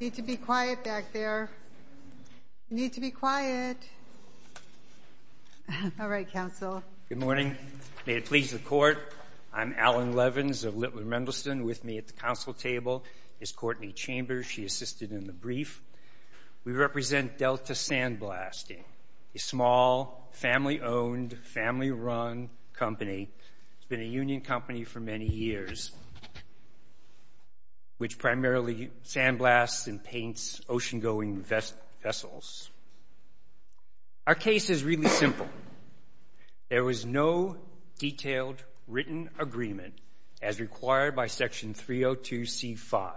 You need to be quiet back there. You need to be quiet. All right, counsel. Good morning. May it please the court, I'm Alan Levins of Littler Mendelsohn. With me at the counsel table is Courtney Chambers. She assisted in the brief. We represent Delta Sandblasting, a small, family-owned, family-run company. It's been a union company for many years, which primarily sandblasts and paints ocean-going vessels. Our case is really simple. There was no detailed, written agreement, as required by Section 302c-5,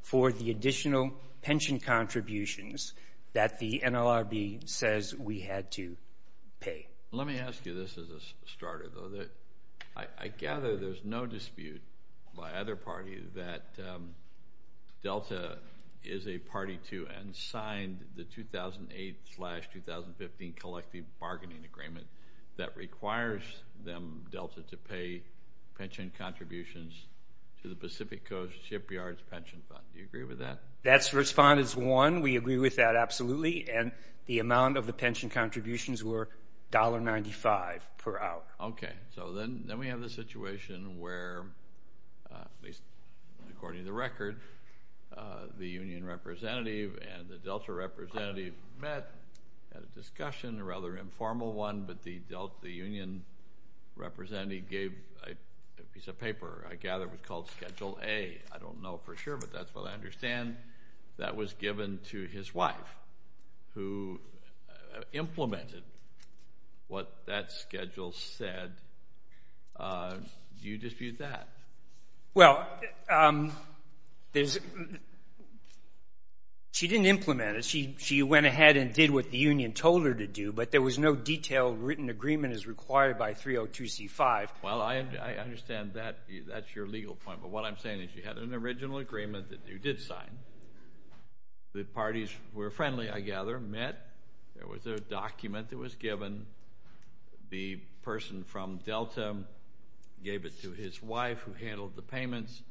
for the additional pension contributions that the NLRB says we had to pay. Let me ask you this as a starter, though. I gather there's no dispute by either party that Delta is a party to and signed the 2008-2015 collective bargaining agreement that requires Delta to pay pension contributions to the Pacific Coast Shipyards Pension Fund. Do you agree with that? That's responded as one. We agree with that, absolutely. And the amount of the pension contributions were $1.95 per hour. Okay. So then we have the situation where, at least according to the record, the union representative and the Delta representative met, had a discussion, a rather informal one, but the Union representative gave a piece of paper. I gather it was called Schedule A. I don't know for sure, but that's what I understand. That was given to his wife, who implemented what that schedule said. Do you dispute that? Well, she didn't implement it. She went ahead and did what the union told her to do, but there was no detailed written agreement as required by 302c5. Well, I understand that. That's your legal point, but what I'm saying is you had an original agreement that you did sign. The parties were friendly, I gather, met. There was a document that was given. The person from Delta gave it to his wife, who handled the payments.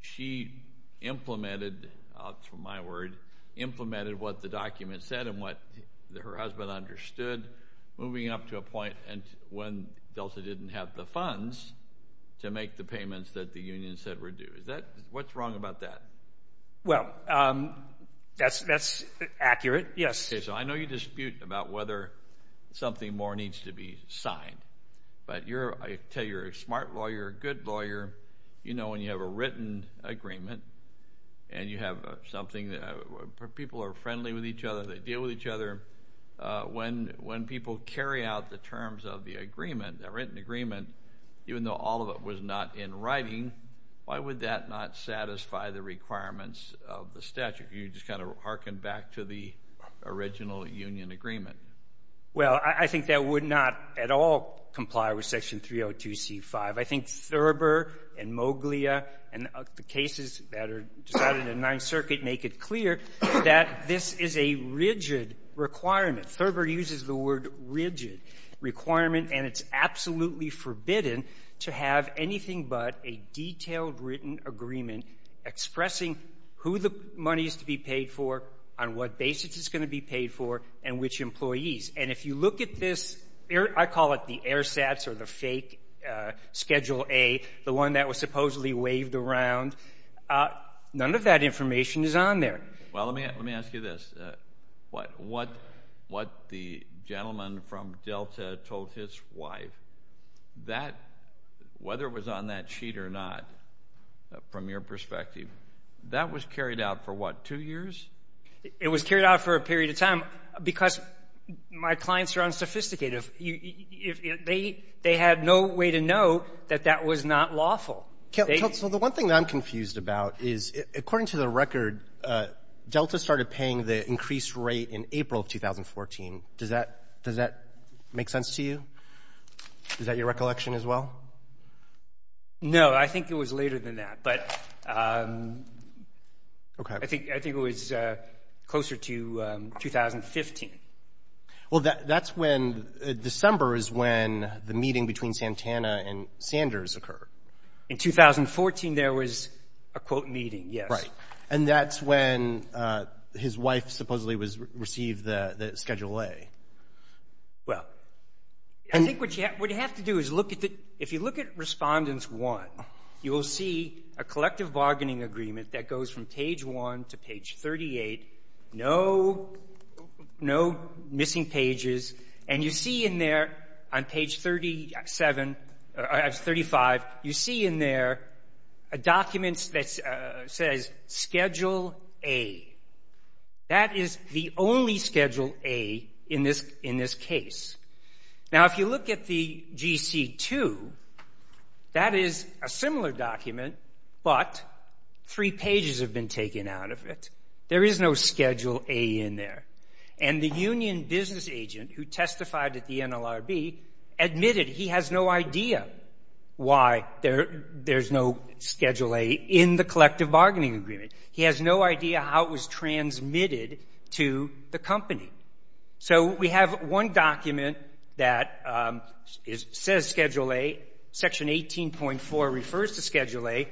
She implemented, to my word, implemented what the document said and what her husband understood, moving up to a point when Delta didn't have the funds to make the payments that the union said were due. What's wrong about that? Well, that's accurate, yes. Okay, so I know you dispute about whether something more needs to be signed, but I tell you, you're a smart lawyer, a good lawyer. You know when you have a written agreement and you have something that people are friendly with each other, they deal with each other. When people carry out the terms of the agreement, that written agreement, even though all of it was not in writing, why would that not satisfy the requirements of the statute? You just kind of harken back to the original union agreement. Well, I think that would not at all comply with Section 302c5. I think Thurber and Moglia and the cases that are decided in the Ninth Circuit make it clear that this is a rigid requirement. Thurber uses the word rigid requirement and it's absolutely forbidden to have anything but a detailed written agreement expressing who the money is to be paid for, on what basis it's going to be paid for, and which employees. And if you look at this, I call it the AirSats or the fake Schedule A, the one that was supposedly waved around. None of that information is on there. Well, let me ask you this. What the gentleman from Delta told his wife, that, whether it was on that sheet or not, from your perspective, that was carried out for, what, two years? It was carried out for a period of time because my clients are unsophisticated. They had no way to know that that was not lawful. So the one thing that I'm confused about is, according to the record, Delta started paying the increased rate in April of 2014. Does that make sense to you? Is that your recollection, as well? No, I think it was later than that, but I think it was closer to 2015. Well, that's when December is when the meeting between Santana and Sanders occurred. In 2014, there was a, quote, meeting, yes. Right, and that's when his wife supposedly received the Schedule A. Well, I think what you have to do is look at the, if you look at Respondents 1, you will see a collective bargaining agreement that goes from page 1 to page 38. No missing pages. And you see in there, on page 37, or 35, you see in there a document that says Schedule A. That is the only Schedule A in this case. Now, if you look at the GC2, that is a similar document, but three pages have been taken out of it. There is no Schedule A in there. And the union business agent who testified at the NLRB admitted he has no idea why there's no Schedule A in the collective bargaining agreement. He has no idea how it was transmitted to the company. So we have one document that says Schedule A. Section 18.4 refers to Schedule A.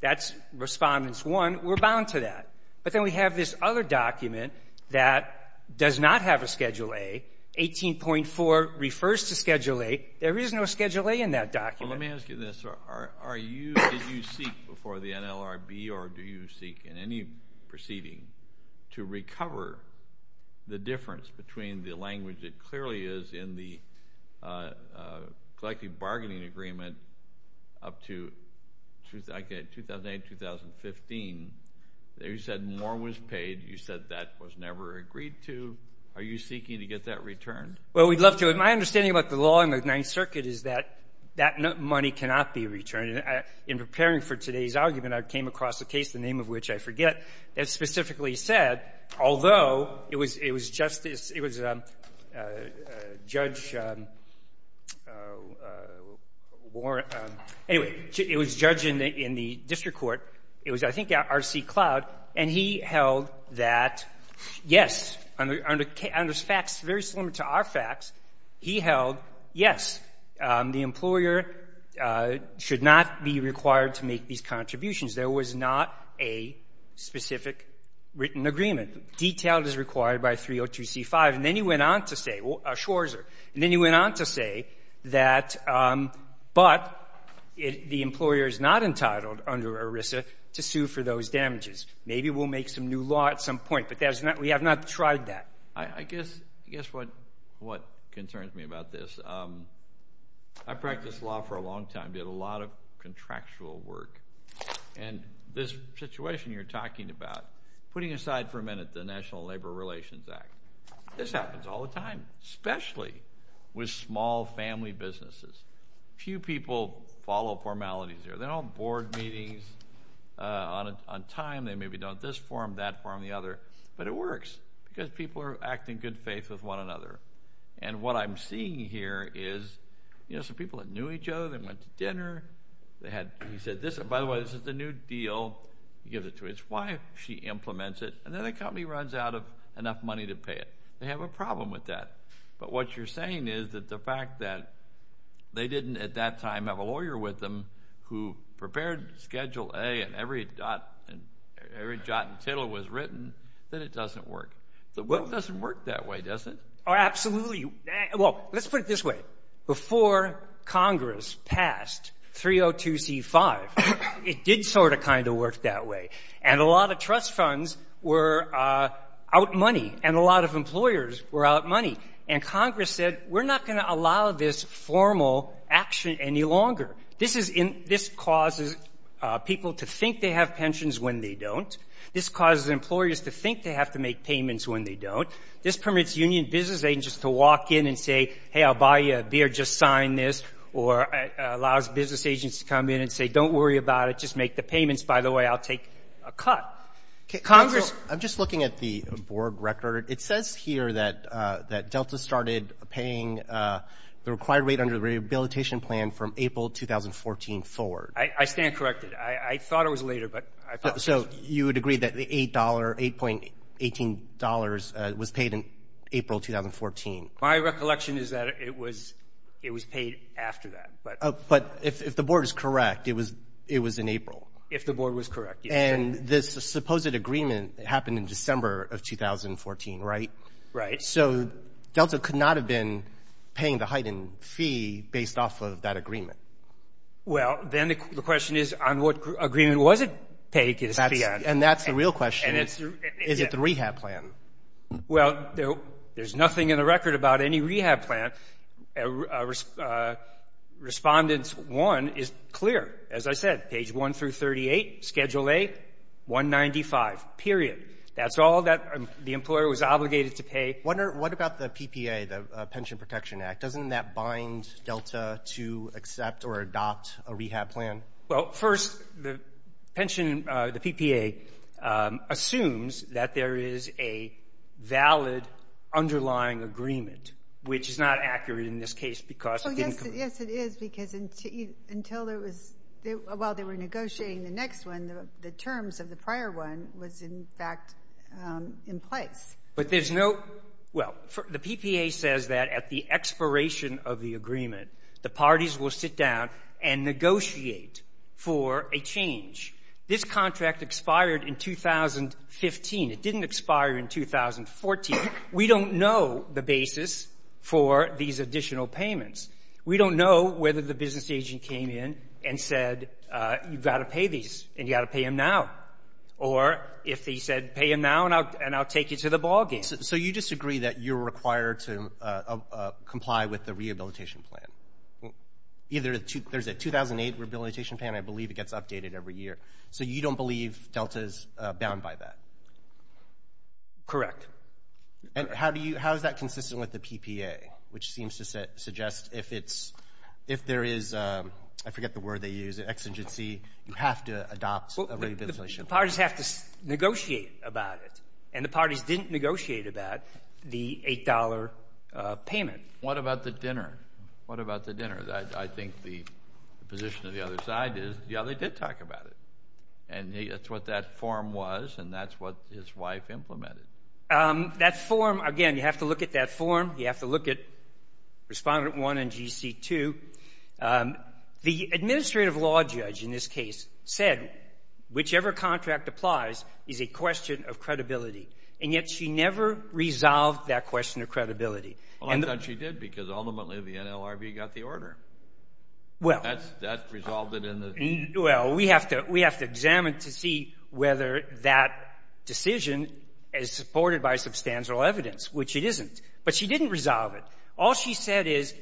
That's Respondents 1. We're bound to that. But then we have this other document that does not have a Schedule A. 18.4 refers to Schedule A. There is no Schedule A in that document. Well, let me ask you this. Are you, did you seek before the NLRB, or do you seek in any proceeding to recover the difference between the language that clearly is in the collective bargaining agreement up to 2008, 2015? You said more was paid. You said that was never agreed to. Are you seeking to get that returned? Well, we'd love to. My understanding about the law in the Ninth Circuit is that that money cannot be returned. In preparing for today's argument, I came across a case, the name of which I forget, that specifically said, although it was Justice, it was Judge Warren, anyway, it was a judge in the district court. It was, I think, R.C. Cloud. And he held that, yes, under FACTS, very similar to our FACTS, he held, yes, the employer should not be required to make these contributions. There was not a specific written agreement. Detailed is required by 302c5. And then he went on to say, Schwarzer, and then he went on to say that, but the employer is not entitled under ERISA to sue for those damages. Maybe we'll make some new law at some point, but we have not tried that. I guess what concerns me about this, I practiced law for a long time, did a lot of contractual work. And this situation you're talking about, putting aside for a minute the National Labor Relations Act, this happens all the time, especially with small family businesses. Few people follow formalities here. They don't board meetings on time. They maybe don't this forum, that forum, the other, but it works because people are acting in good faith with one another. And what I'm seeing here is, you know, it's the people that knew each other, they went to dinner, they had, he said, this, by the way, this is the new deal, he gives it to his wife, she implements it, and then the company runs out of enough money to pay it. They have a problem with that. But what you're saying is that the fact that they didn't at that time have a lawyer with them who prepared Schedule A and every dot, and every jot and tittle was written, then it doesn't work. The book doesn't work that way, does it? Oh, absolutely. Well, let's put it this way. Before Congress passed 302c5, it did sort of kind of work that way. And a lot of trust funds were out money, and a lot of employers were out money. And Congress said, we're not going to allow this formal action any longer. This is, this causes people to think they have pensions when they don't. This causes employers to think they have to make payments when they don't. This permits union business agents to walk in and say, hey, I'll buy you a beer, just sign this, or allows business agents to come in and say, don't worry about it, just make the payments. By the way, I'll take a cut. Congress... I'm just looking at the board record. It says here that Delta started paying the required rate under the rehabilitation plan from April 2014 forward. I stand corrected. I thought it was later, but I thought... So you would agree that the $8, $8.18 was paid in April 2014? My recollection is that it was, it was paid after that. But if the board is correct, it was, it was in April. If the board was correct. And this supposed agreement happened in December of 2014, right? Right. So Delta could not have been paying the heightened fee based off of that agreement. Well, then the question is on what agreement was it paid its fee on? And that's the real question. Is it the rehab plan? Well, there's nothing in the record about any rehab plan. Respondents 1 is clear. As I said, page 1 through 38, Schedule A, 195, period. That's all that the employer was obligated to pay. What about the PPA, the Pension Protection Act? Doesn't that bind Delta to accept or adopt a rehab plan? Well, first, the pension, the PPA, assumes that there is a valid underlying agreement, which is not accurate in this case because it didn't come up. Yes, it is, because until there was, while they were negotiating the next one, the terms of the prior one was, in fact, in place. But there's no, well, the PPA says that at the expiration of the agreement, the parties will sit down and negotiate for a change. This contract expired in 2015. It didn't expire in 2014. We don't know the basis for these additional payments. We don't know whether the business agent came in and said, you've got to pay these, and you've got to pay them now. Or if he said, pay them now, and I'll take you to the ballgame. So you disagree that you're required to comply with the rehabilitation plan? Either, there's a 2008 rehabilitation plan. I believe it gets updated every year. So you don't believe Delta's bound by that? Correct. And how do you, how is that consistent with the PPA, which seems to suggest if it's, if there is, I forget the word they use, an exigency, you have to adopt a rehabilitation plan? Well, the parties have to negotiate about it, and the parties didn't negotiate about the $8 payment. What about the dinner? What about the dinner? I think the position of the other side is, yeah, they did talk about it. And that's what that form was, and that's what his wife implemented. That form, again, you have to look at that form. You have to look at Respondent 1 and GC2. The administrative law judge in this case said, whichever contract applies is a question of credibility, and yet she never resolved that question of credibility. Well, I thought she did, because ultimately the NLRB got the order. Well. That resolved it in the... Well, we have to examine to see whether that decision is supported by substantial evidence, which it isn't. But she didn't resolve it. All she said is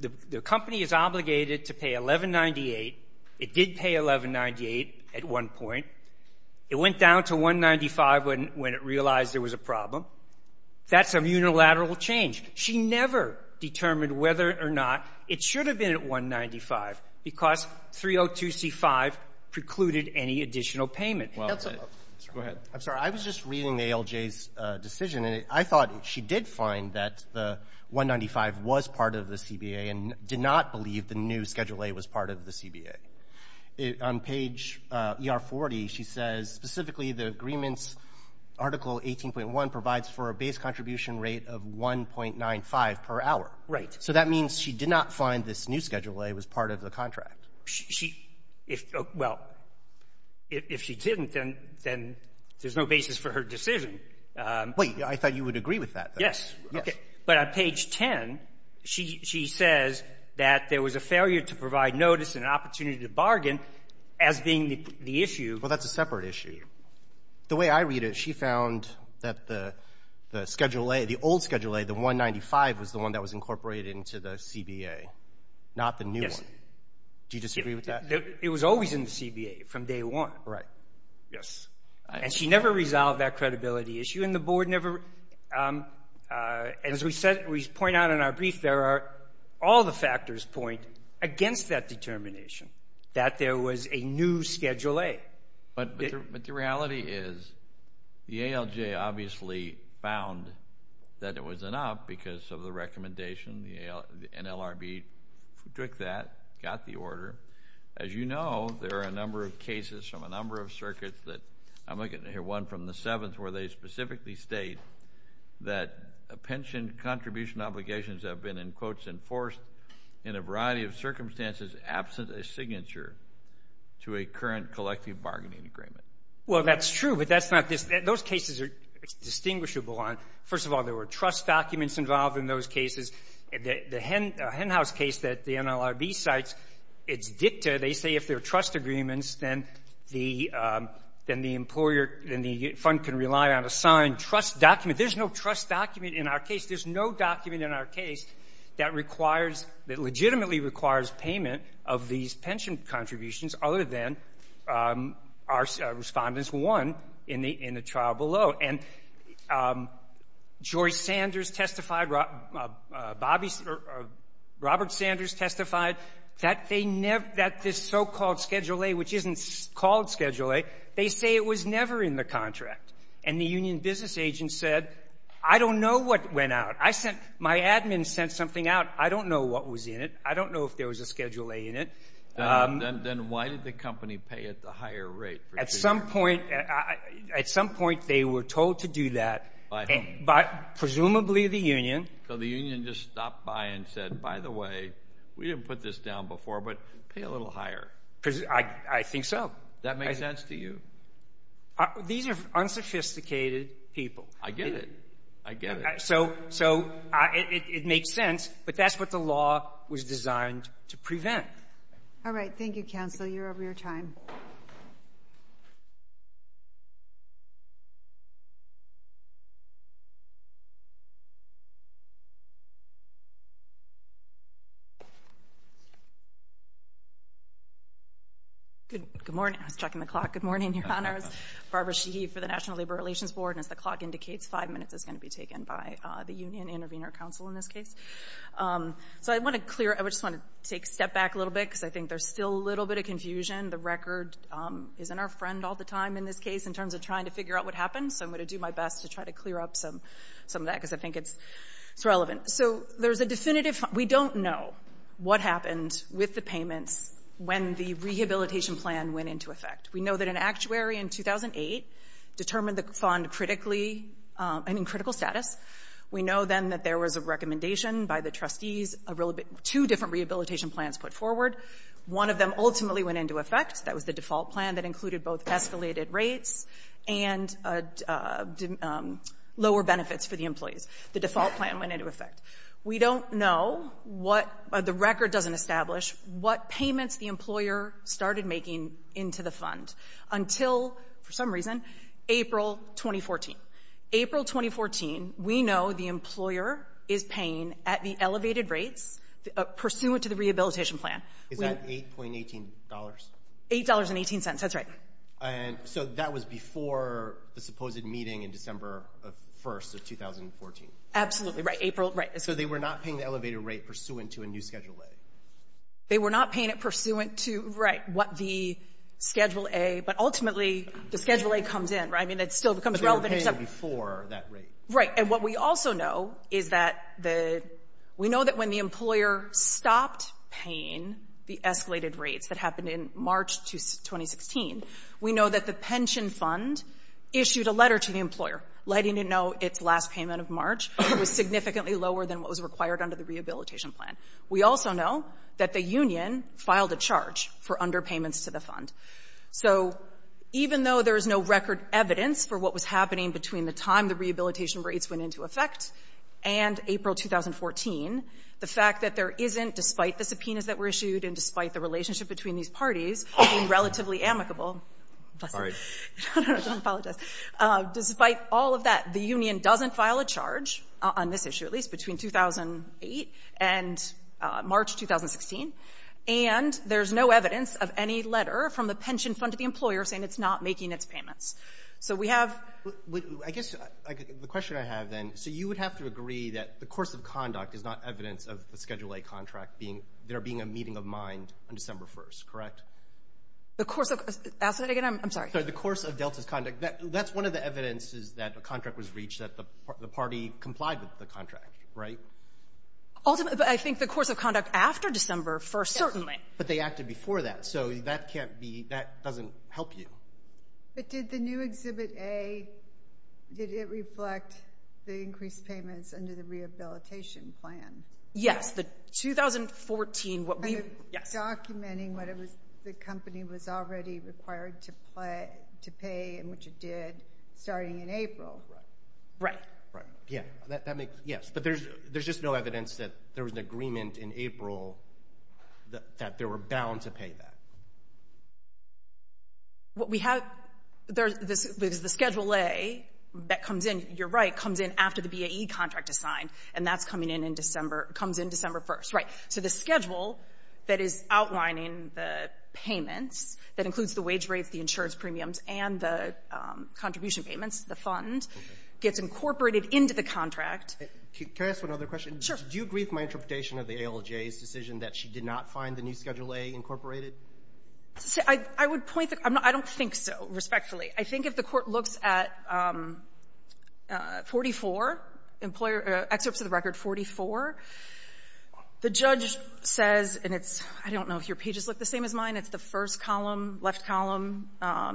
the company is obligated to pay $1,198. It did pay $1,198 at one point. It went down to $195 when it realized there was a problem. That's a unilateral change. She never determined whether or not it should have been at $195, because 302c5 precluded any additional payment. Go ahead. I'm sorry. I was just reading ALJ's decision, and I thought she did find that the $195 was part of the CBA and did not believe the new Schedule A was part of the CBA. On page ER40, she says, specifically, the agreements Article 18.1 provides for a base contribution rate of $1.95 per hour. Right. So that means she did not find this new Schedule A was part of the contract. She — well, if she didn't, then there's no basis for her decision. Wait. I thought you would agree with that. Yes. Okay. But on page 10, she says that there was a failure to provide notice and an opportunity to bargain as being the issue. Well, that's a separate issue. The way I read it, she found that the Schedule A, the old Schedule A, the $195, was the one that was incorporated into the CBA, not the new one. Yes. Do you disagree with that? It was always in the CBA from day one. Right. Yes. And she never resolved that credibility issue, and the board never — as we said, we point out in our brief, there are — all the factors point against that determination, that there was a new Schedule A. But the reality is the ALJ obviously found that it was an up because of the recommendation. The NLRB took that, got the order. As you know, there are a number of cases from a number of circuits that — I'm looking to hear one from the 7th where they specifically state that pension contribution obligations have been, in quotes, enforced in a variety of circumstances absent a signature to a current collective bargaining agreement. Well, that's true, but that's not — those cases are distinguishable on — first of all, there were trust documents involved in those cases. The Henhouse case that the NLRB cites, it's dicta. They say if they're trust agreements, then the employer — then the fund can rely on a signed trust document. There's no trust document in our case. There's no document in our case that requires — other than our respondents won in the trial below. And George Sanders testified, Bobby — Robert Sanders testified that they never — that this so-called Schedule A, which isn't called Schedule A, they say it was never in the contract. And the union business agent said, I don't know what went out. I sent — my admin sent something out. I don't know what was in it. I don't know if there was a Schedule A in it. Then why did the company pay at the higher rate? At some point — at some point, they were told to do that. By whom? Presumably the union. So the union just stopped by and said, by the way, we didn't put this down before, but pay a little higher. I think so. That make sense to you? These are unsophisticated people. I get it. I get it. So — so it makes sense, but that's what the law was designed to prevent. All right. Thank you, counsel. You're over your time. Good — good morning. I was checking the clock. Good morning, Your Honors. Barbara Sheehy for the National Labor Relations Board. And as the clock indicates, five minutes is going to be taken by the Union Intervenor Counsel in this case. So I want to clear — I just want to take a step back a little bit, because I think there's still a little bit of confusion. The record isn't our friend all the time in this case, in terms of trying to figure out what happened. So I'm going to do my best to try to clear up some of that, because I think it's relevant. So there's a definitive — we don't know what happened with the payments when the rehabilitation plan went into effect. We know that an actuary in 2008 determined the fund critically — and in critical status. We know then that there was a recommendation by the trustees, a real — two different rehabilitation plans put forward. One of them ultimately went into effect. That was the default plan that included both escalated rates and lower benefits for the employees. The default plan went into effect. We don't know what — the record doesn't establish what payments the employer started making into the fund until, for some reason, April 2014. April 2014, we know the employer is paying at the elevated rates pursuant to the rehabilitation plan. Is that $8.18? $8.18, that's right. And so that was before the supposed meeting in December 1st of 2014? Absolutely right. April — right. They were not paying it pursuant to — right — what the Schedule A — but ultimately, the Schedule A comes in, right? I mean, it still becomes relevant except — But they were paying it before that rate. Right. And what we also know is that the — we know that when the employer stopped paying the escalated rates that happened in March 2016, we know that the pension fund issued a letter to the employer letting it know its last payment of March was significantly lower than what was required under the rehabilitation plan. We also know that the union filed a charge for underpayments to the fund. So even though there is no record evidence for what was happening between the time the rehabilitation rates went into effect and April 2014, the fact that there isn't, despite the subpoenas that were issued and despite the relationship between these parties being relatively amicable — Sorry. No, no, don't apologize. Despite all of that, the union doesn't file a charge — on this issue, at least — between 2008 and March 2016. And there's no evidence of any letter from the pension fund to the employer saying it's not making its payments. So we have — I guess the question I have, then — so you would have to agree that the course of conduct is not evidence of the Schedule A contract being — there being a meeting of mind on December 1st, correct? The course of — ask that again? I'm sorry. The course of Delta's conduct. That's one of the evidences that a contract was reached that the party complied with the contract, right? Ultimately, but I think the course of conduct after December 1st, certainly. But they acted before that, so that can't be — that doesn't help you. But did the new Exhibit A — did it reflect the increased payments under the rehabilitation plan? Yes, the 2014 — what we — Documenting what it was — the company was already required to pay in which it did starting in April. Right. Yeah, that makes — yes, but there's just no evidence that there was an agreement in April that they were bound to pay that. What we have — there's the Schedule A that comes in — you're right, comes in after the BAE contract is signed. And that's coming in in December — comes in December 1st, right. So the schedule that is outlining the payments, that includes the wage rates, the insurance premiums, and the contribution payments, the fund, gets incorporated into the contract. Can I ask one other question? Sure. Do you agree with my interpretation of the ALJ's decision that she did not find the new Schedule A incorporated? I would point — I don't think so, respectfully. I think if the Court looks at 44, Excerpts of the Record 44, the judge says — and it's — I don't know if your pages look the same as mine. It's the first column, left column.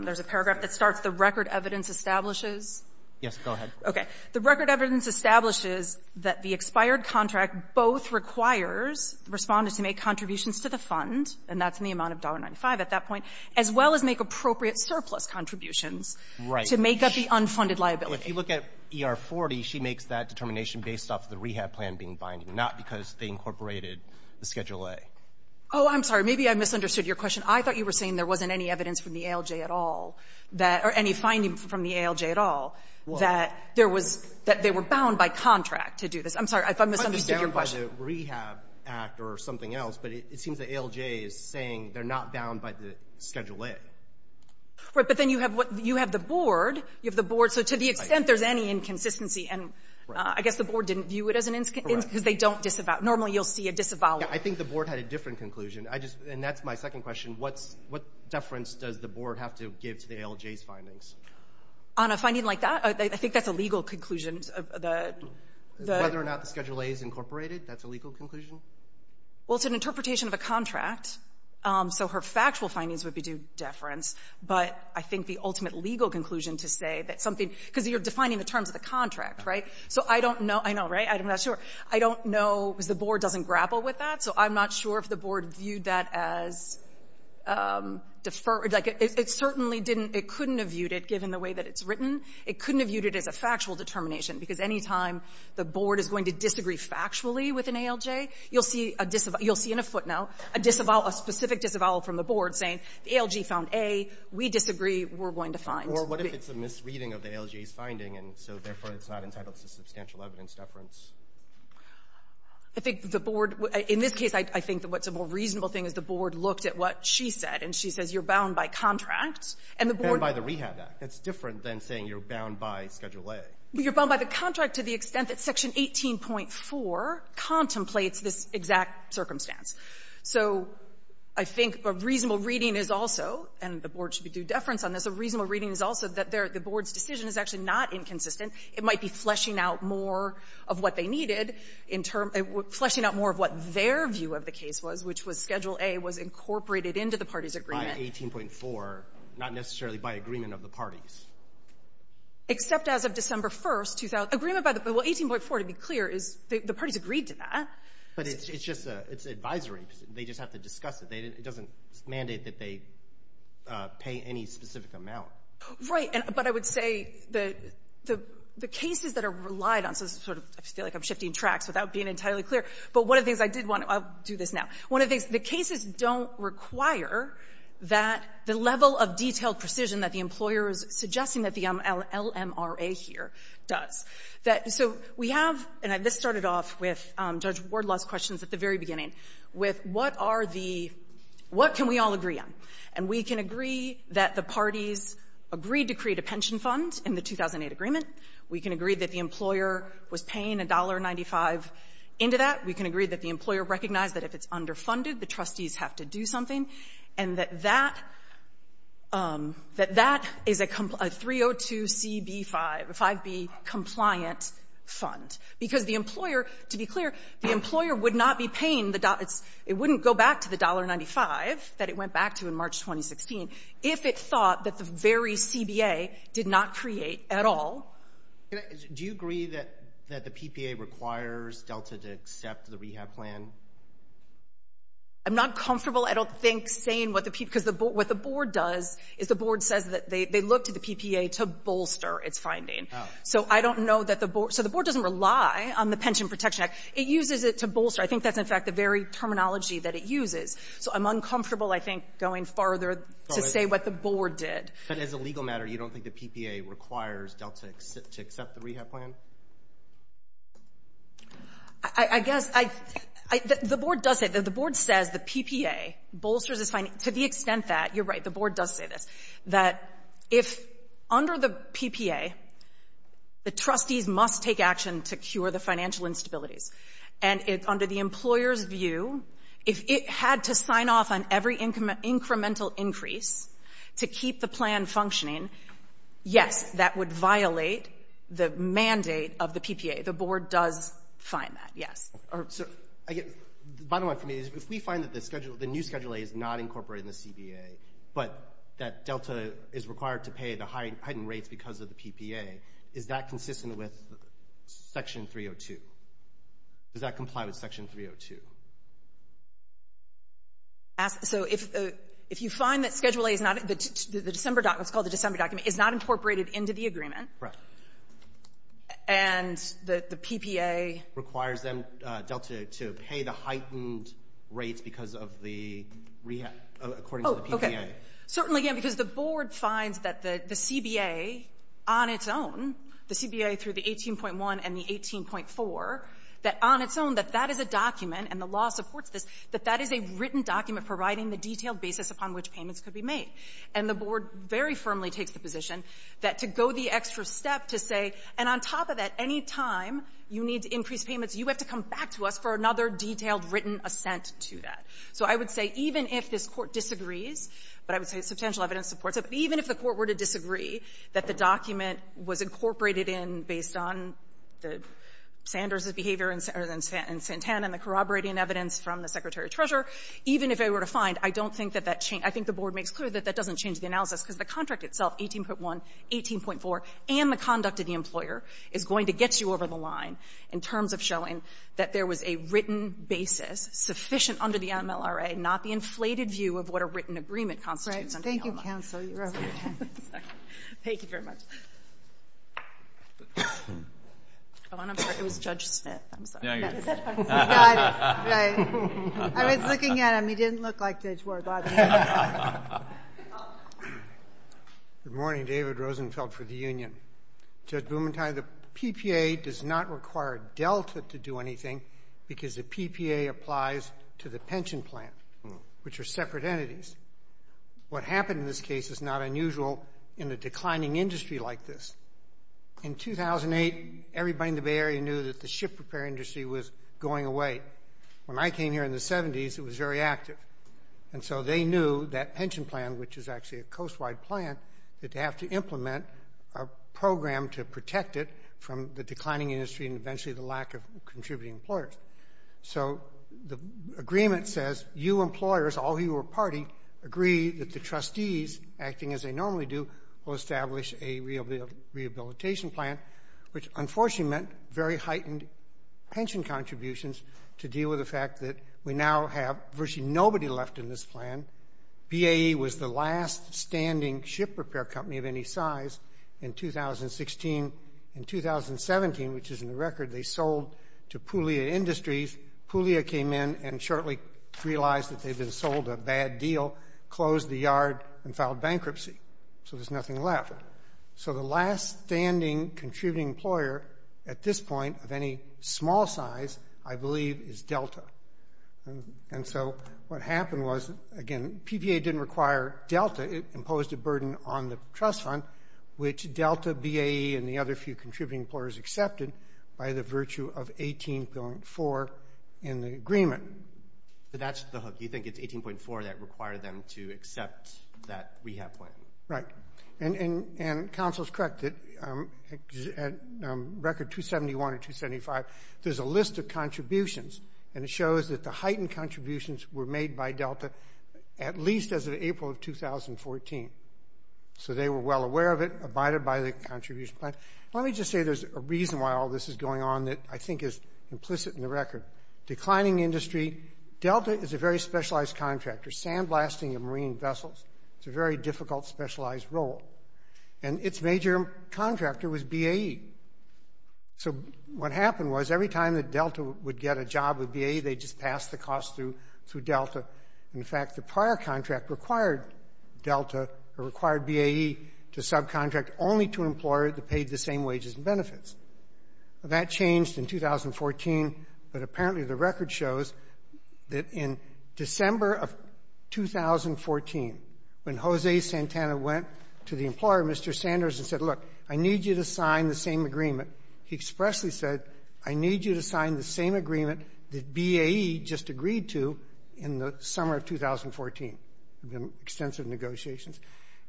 There's a paragraph that starts, The record evidence establishes — Yes, go ahead. Okay. The record evidence establishes that the expired contract both requires Respondents to make contributions to the fund, and that's in the amount of $1.95 at that point, as well as make appropriate surplus contributions to make up the unfunded liability. If you look at ER 40, she makes that determination based off the rehab plan being binding, not because they incorporated the Schedule A. Oh, I'm sorry. Maybe I misunderstood your question. I thought you were saying there wasn't any evidence from the ALJ at all that — or any finding from the ALJ at all that there was — that they were bound by contract to do this. I'm sorry. I misunderstood your question. I'm not bound by the Rehab Act or something else, but it seems the ALJ is saying they're not bound by the Schedule A. Right. But then you have what — you have the Board. You have the Board. So to the extent there's any inconsistency — Right. And I guess the Board didn't view it as an — Correct. Because they don't disavow. Normally, you'll see a disavow. Yeah. I think the Board had a different conclusion. And that's my second question. What deference does the Board have to give to the ALJ's findings? On a finding like that? I think that's a legal conclusion. Whether or not the Schedule A is incorporated, that's a legal conclusion? Well, it's an interpretation of a contract. So her factual findings would be due deference. But I think the ultimate legal conclusion to say that something — because you're defining the terms of the contract, right? So I don't know — I know, right? I'm not sure. I don't know because the Board doesn't grapple with that. So I'm not sure if the Board viewed that as deferred. Like, it certainly didn't — it couldn't have viewed it, given the way that it's written. It couldn't have viewed it as a factual determination. Because any time the Board is going to disagree factually with an ALJ, you'll see a disavow. You'll see in a footnote a disavow, a specific disavow from the Board, saying the ALJ found A. We disagree. We're going to find. Or what if it's a misreading of the ALJ's finding? And so, therefore, it's not entitled to substantial evidence deference? I think the Board — in this case, I think that what's a more reasonable thing is the Board looked at what she said. And she says you're bound by contract. And the Board — And by the Rehab Act. That's different than saying you're bound by Schedule A. You're bound by the contract to the extent that Section 18.4 contemplates this exact circumstance. So I think a reasonable reading is also — and the Board should be due deference on this — a reasonable reading is also that the Board's decision is actually not inconsistent. It might be fleshing out more of what they needed in terms — fleshing out more of what their view of the case was, which was Schedule A was incorporated into the parties' agreement. By 18.4, not necessarily by agreement of the parties? Except as of December 1st, 2000. Agreement by the — well, 18.4, to be clear, is — the parties agreed to that. But it's just a — it's advisory. They just have to discuss it. It doesn't mandate that they pay any specific amount. Right. But I would say the cases that are relied on — so this is sort of — I feel like I'm shifting tracks without being entirely clear. But one of the things I did want to — I'll do this now. One of the things — the cases don't require that — the level of detailed precision that the employer is suggesting that the LMRA here does. So we have — and this started off with Judge Wardlaw's questions at the very beginning — with what are the — what can we all agree on? And we can agree that the parties agreed to create a pension fund in the 2008 agreement. We can agree that the employer was paying $1.95 into that. We can agree that the employer recognized that if it's underfunded, the trustees have to do something, and that that — that that is a 302CB5 — a 5B compliant fund, because the employer — to be clear, the employer would not be paying the — if it thought that the very CBA did not create at all. I'm not comfortable, I don't think, saying what the — because what the board does is the board says that they look to the PPA to bolster its finding. So I don't know that the board — so the board doesn't rely on the Pension Protection Act. It uses it to bolster. I think that's, in fact, the very terminology that it uses. So I'm uncomfortable, I think, going farther to say what the board did. But as a legal matter, you don't think the PPA requires Delta to accept the rehab plan? I guess I — the board does say — the board says the PPA bolsters its — to the extent that — you're right, the board does say this — that if under the PPA, the trustees must take action to cure the financial instabilities. And under the employer's view, if it had to sign off on every incremental increase to keep the plan functioning, yes, that would violate the mandate of the PPA. The board does find that, yes. So I guess the bottom line for me is if we find that the schedule — the new Schedule A is not incorporated in the CBA, but that Delta is required to pay the heightened rates because of the PPA, is that consistent with Section 302? Does that comply with Section 302? So if you find that Schedule A is not — the December — it's called the December document — is not incorporated into the agreement, and the PPA — Requires them, Delta, to pay the heightened rates because of the rehab — according to the PPA. Certainly, yeah, because the board finds that the CBA on its own — the CBA through the on its own, that that is a document, and the law supports this, that that is a written document providing the detailed basis upon which payments could be made. And the board very firmly takes the position that to go the extra step to say — and on top of that, any time you need to increase payments, you have to come back to us for another detailed written assent to that. So I would say even if this Court disagrees — but I would say substantial evidence supports it — but even if the Court were to disagree that the document was incorporated in based on the — Sanders' behavior and Santana and the corroborating evidence from the secretary-treasurer, even if they were to find, I don't think that that — I think the board makes clear that that doesn't change the analysis, because the contract itself, 18.1, 18.4, and the conduct of the employer is going to get you over the line in terms of showing that there was a written basis sufficient under the MLRA, not the inflated view of what a written agreement constitutes under ELMA. Thank you, counsel. You're over your time. Thank you very much. Oh, and I'm sorry. It was Judge Smith. I'm sorry. Yeah, I get it. You got it. Right. I was looking at him. He didn't look like Judge Warthog. Good morning. David Rosenfeld for the union. Judge Bumenthal, the PPA does not require Delta to do anything because the PPA applies to the pension plan, which are separate entities. What happened in this case is not unusual in a declining industry like this. In 2008, everybody in the Bay Area knew that the ship repair industry was going away. When I came here in the 70s, it was very active. And so they knew that pension plan, which is actually a coast-wide plan, that they have to implement a program to protect it from the declining industry and eventually the lack of contributing employers. So the agreement says, you employers, all of you who are party, agree that the trustees, acting as they normally do, will establish a rehabilitation plan, which unfortunately meant very heightened pension contributions to deal with the fact that we now have virtually nobody left in this plan. BAE was the last standing ship repair company of any size in 2016. In 2017, which is in the record, they sold to Pulea Industries. Pulea came in and shortly realized that they'd been sold a bad deal, closed the yard, and filed bankruptcy. So there's nothing left. So the last standing contributing employer at this point of any small size, I believe, is Delta. And so what happened was, again, PPA didn't require Delta. It imposed a burden on the trust fund, which Delta, BAE, and the other few contributing employers accepted by the virtue of 18.4 in the agreement. But that's the hook. You think it's 18.4 that required them to accept that rehab plan? Right. And counsel's correct. At record 271 or 275, there's a list of contributions, and it shows that the heightened contributions were made by Delta at least as of April of 2014. So they were well aware of it, abided by the contribution plan. Let me just say there's a reason why all this is going on that I think is implicit in the record. Declining industry. Delta is a very specialized contractor. Sandblasting of marine vessels. It's a very difficult, specialized role. And its major contractor was BAE. So what happened was, every time that Delta would get a job with BAE, they just passed the cost through Delta. In fact, the prior contract required Delta, or required BAE, to subcontract only to an employer that paid the same wages and benefits. That changed in 2014, but apparently the record shows that in December of 2014, when Jose Santana went to the employer, Mr. Sanders, and said, look, I need you to sign the same agreement, he expressly said, I need you to sign the same agreement that BAE just agreed to in the summer of 2014. There have been extensive negotiations.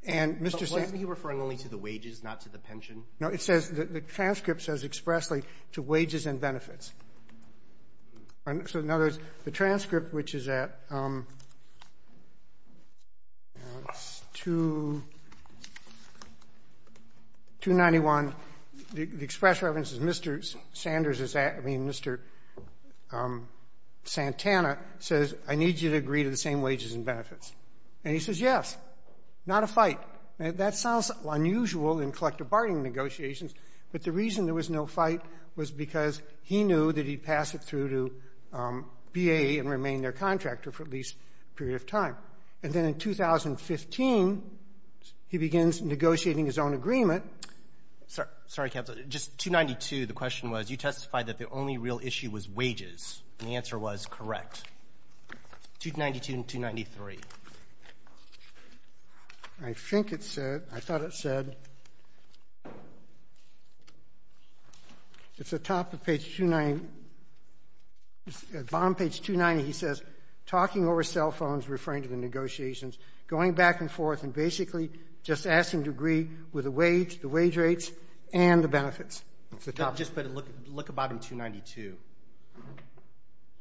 And Mr. Sanders — But wasn't he referring only to the wages, not to the pension? No. It says — the transcript says expressly, to wages and benefits. So in other words, the transcript, which is at — it's 291. The express reference is Mr. Sanders is at — I mean, Mr. Santana says, I need you to agree to the same wages and benefits. And he says, yes. Not a fight. And that sounds unusual in collective bargaining negotiations, but the reason there was no fight was because he knew that he'd pass it through to BAE and remain their contractor for at least a period of time. And then in 2015, he begins negotiating his own agreement. Sorry, Counsel. Just 292, the question was, you testified that the only real issue was wages. And the answer was correct. 292 and 293. I think it said — I thought it said — it's atop of page 290. At bottom page 290, he says, talking over cell phones, referring to the negotiations, going back and forth, and basically just asking to agree with the wage, the wage rates, and the benefits. Just look about in 292.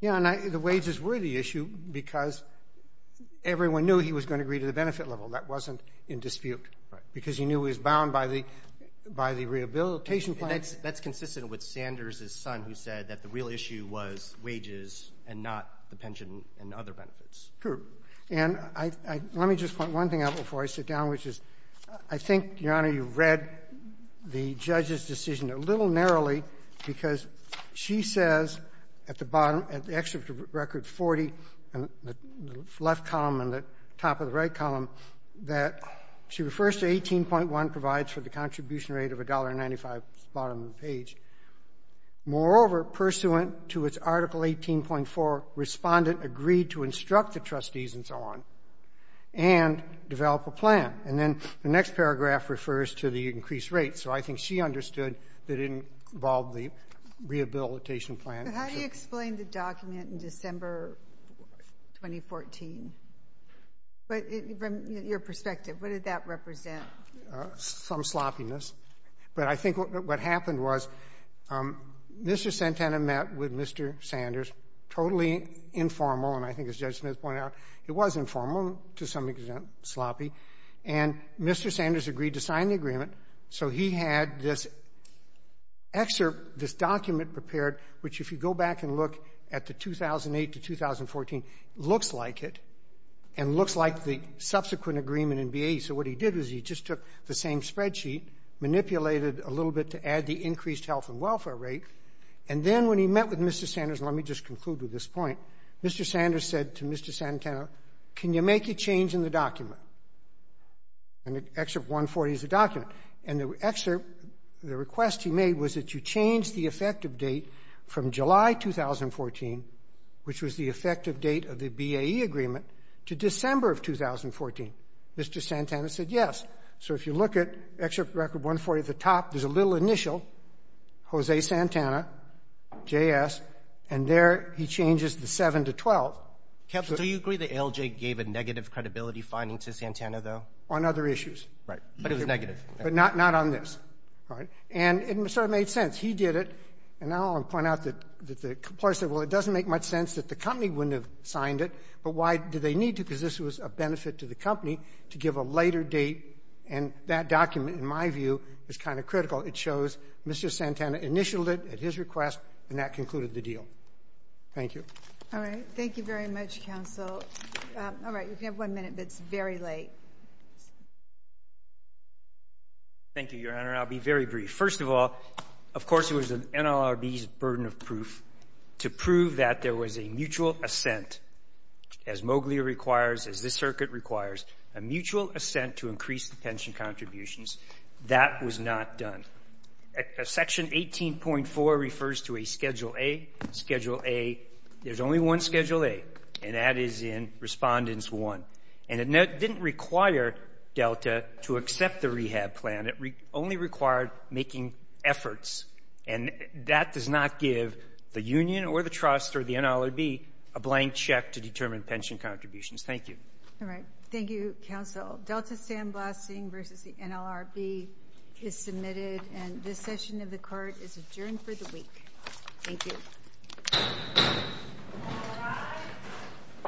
Yeah, and the wages were the issue because everyone knew he was going to agree to the benefit level. That wasn't in dispute. Because he knew he was bound by the rehabilitation plan. That's consistent with Sanders' son who said that the real issue was wages and not the pension and other benefits. True. And let me just point one thing out before I sit down, which is I think, Your Honor, you read the judge's decision a little narrowly because she says at the bottom, at the excerpt of Record 40, the left column and the top of the right column, that she refers to 18.1 provides for the contribution rate of $1.95 at the bottom of the page. Moreover, pursuant to its Article 18.4, respondent agreed to instruct the trustees and so on and develop a plan. And then the next paragraph refers to the increased rates. So I think she understood that it involved the rehabilitation plan. How do you explain the document in December 2014? From your perspective, what did that represent? Some sloppiness. But I think what happened was Mr. Santana met with Mr. Sanders, totally informal, and I think as Judge Smith pointed out, it was informal to some extent, sloppy, and Mr. Sanders agreed to sign the agreement. So he had this excerpt, this document prepared, which if you go back and look at the 2008 to 2014, looks like it and looks like the subsequent agreement in the same spreadsheet manipulated a little bit to add the increased health and welfare rate. And then when he met with Mr. Sanders, and let me just conclude with this point, Mr. Sanders said to Mr. Santana, can you make a change in the document? And the excerpt 140 is the document. And the request he made was that you change the effective date from July 2014, which was the effective date of the BAE agreement, to December of 2014. Mr. Santana said yes. So if you look at excerpt 140 at the top, there's a little initial, Jose Santana, JS, and there he changes the 7 to 12. Do you agree that ALJ gave a negative credibility finding to Santana, though? On other issues. Right. But it was negative. But not on this. Right? And it sort of made sense. He did it. And I want to point out that the employer said, well, it doesn't make much sense that the company wouldn't have signed it, but why did they need to? Because this was a benefit to the company to give a later date. And that document, in my view, is kind of critical. It shows Mr. Santana initialed it at his request, and that concluded the deal. Thank you. All right. Thank you very much, counsel. All right. You have one minute, but it's very late. Thank you, Your Honor. I'll be very brief. First of all, of course, it was an NLRB's burden of proof to prove that there was a mutual assent to increase the pension contributions. That was not done. Section 18.4 refers to a Schedule A. Schedule A, there's only one Schedule A, and that is in Respondents 1. And it didn't require Delta to accept the rehab plan. It only required making efforts. And that does not give the union or the trust or the NLRB a blank check to determine pension contributions. Thank you. All right. Thank you, counsel. Delta Sandblasting v. the NLRB is submitted, and this session of the Court is adjourned for the week. Thank you.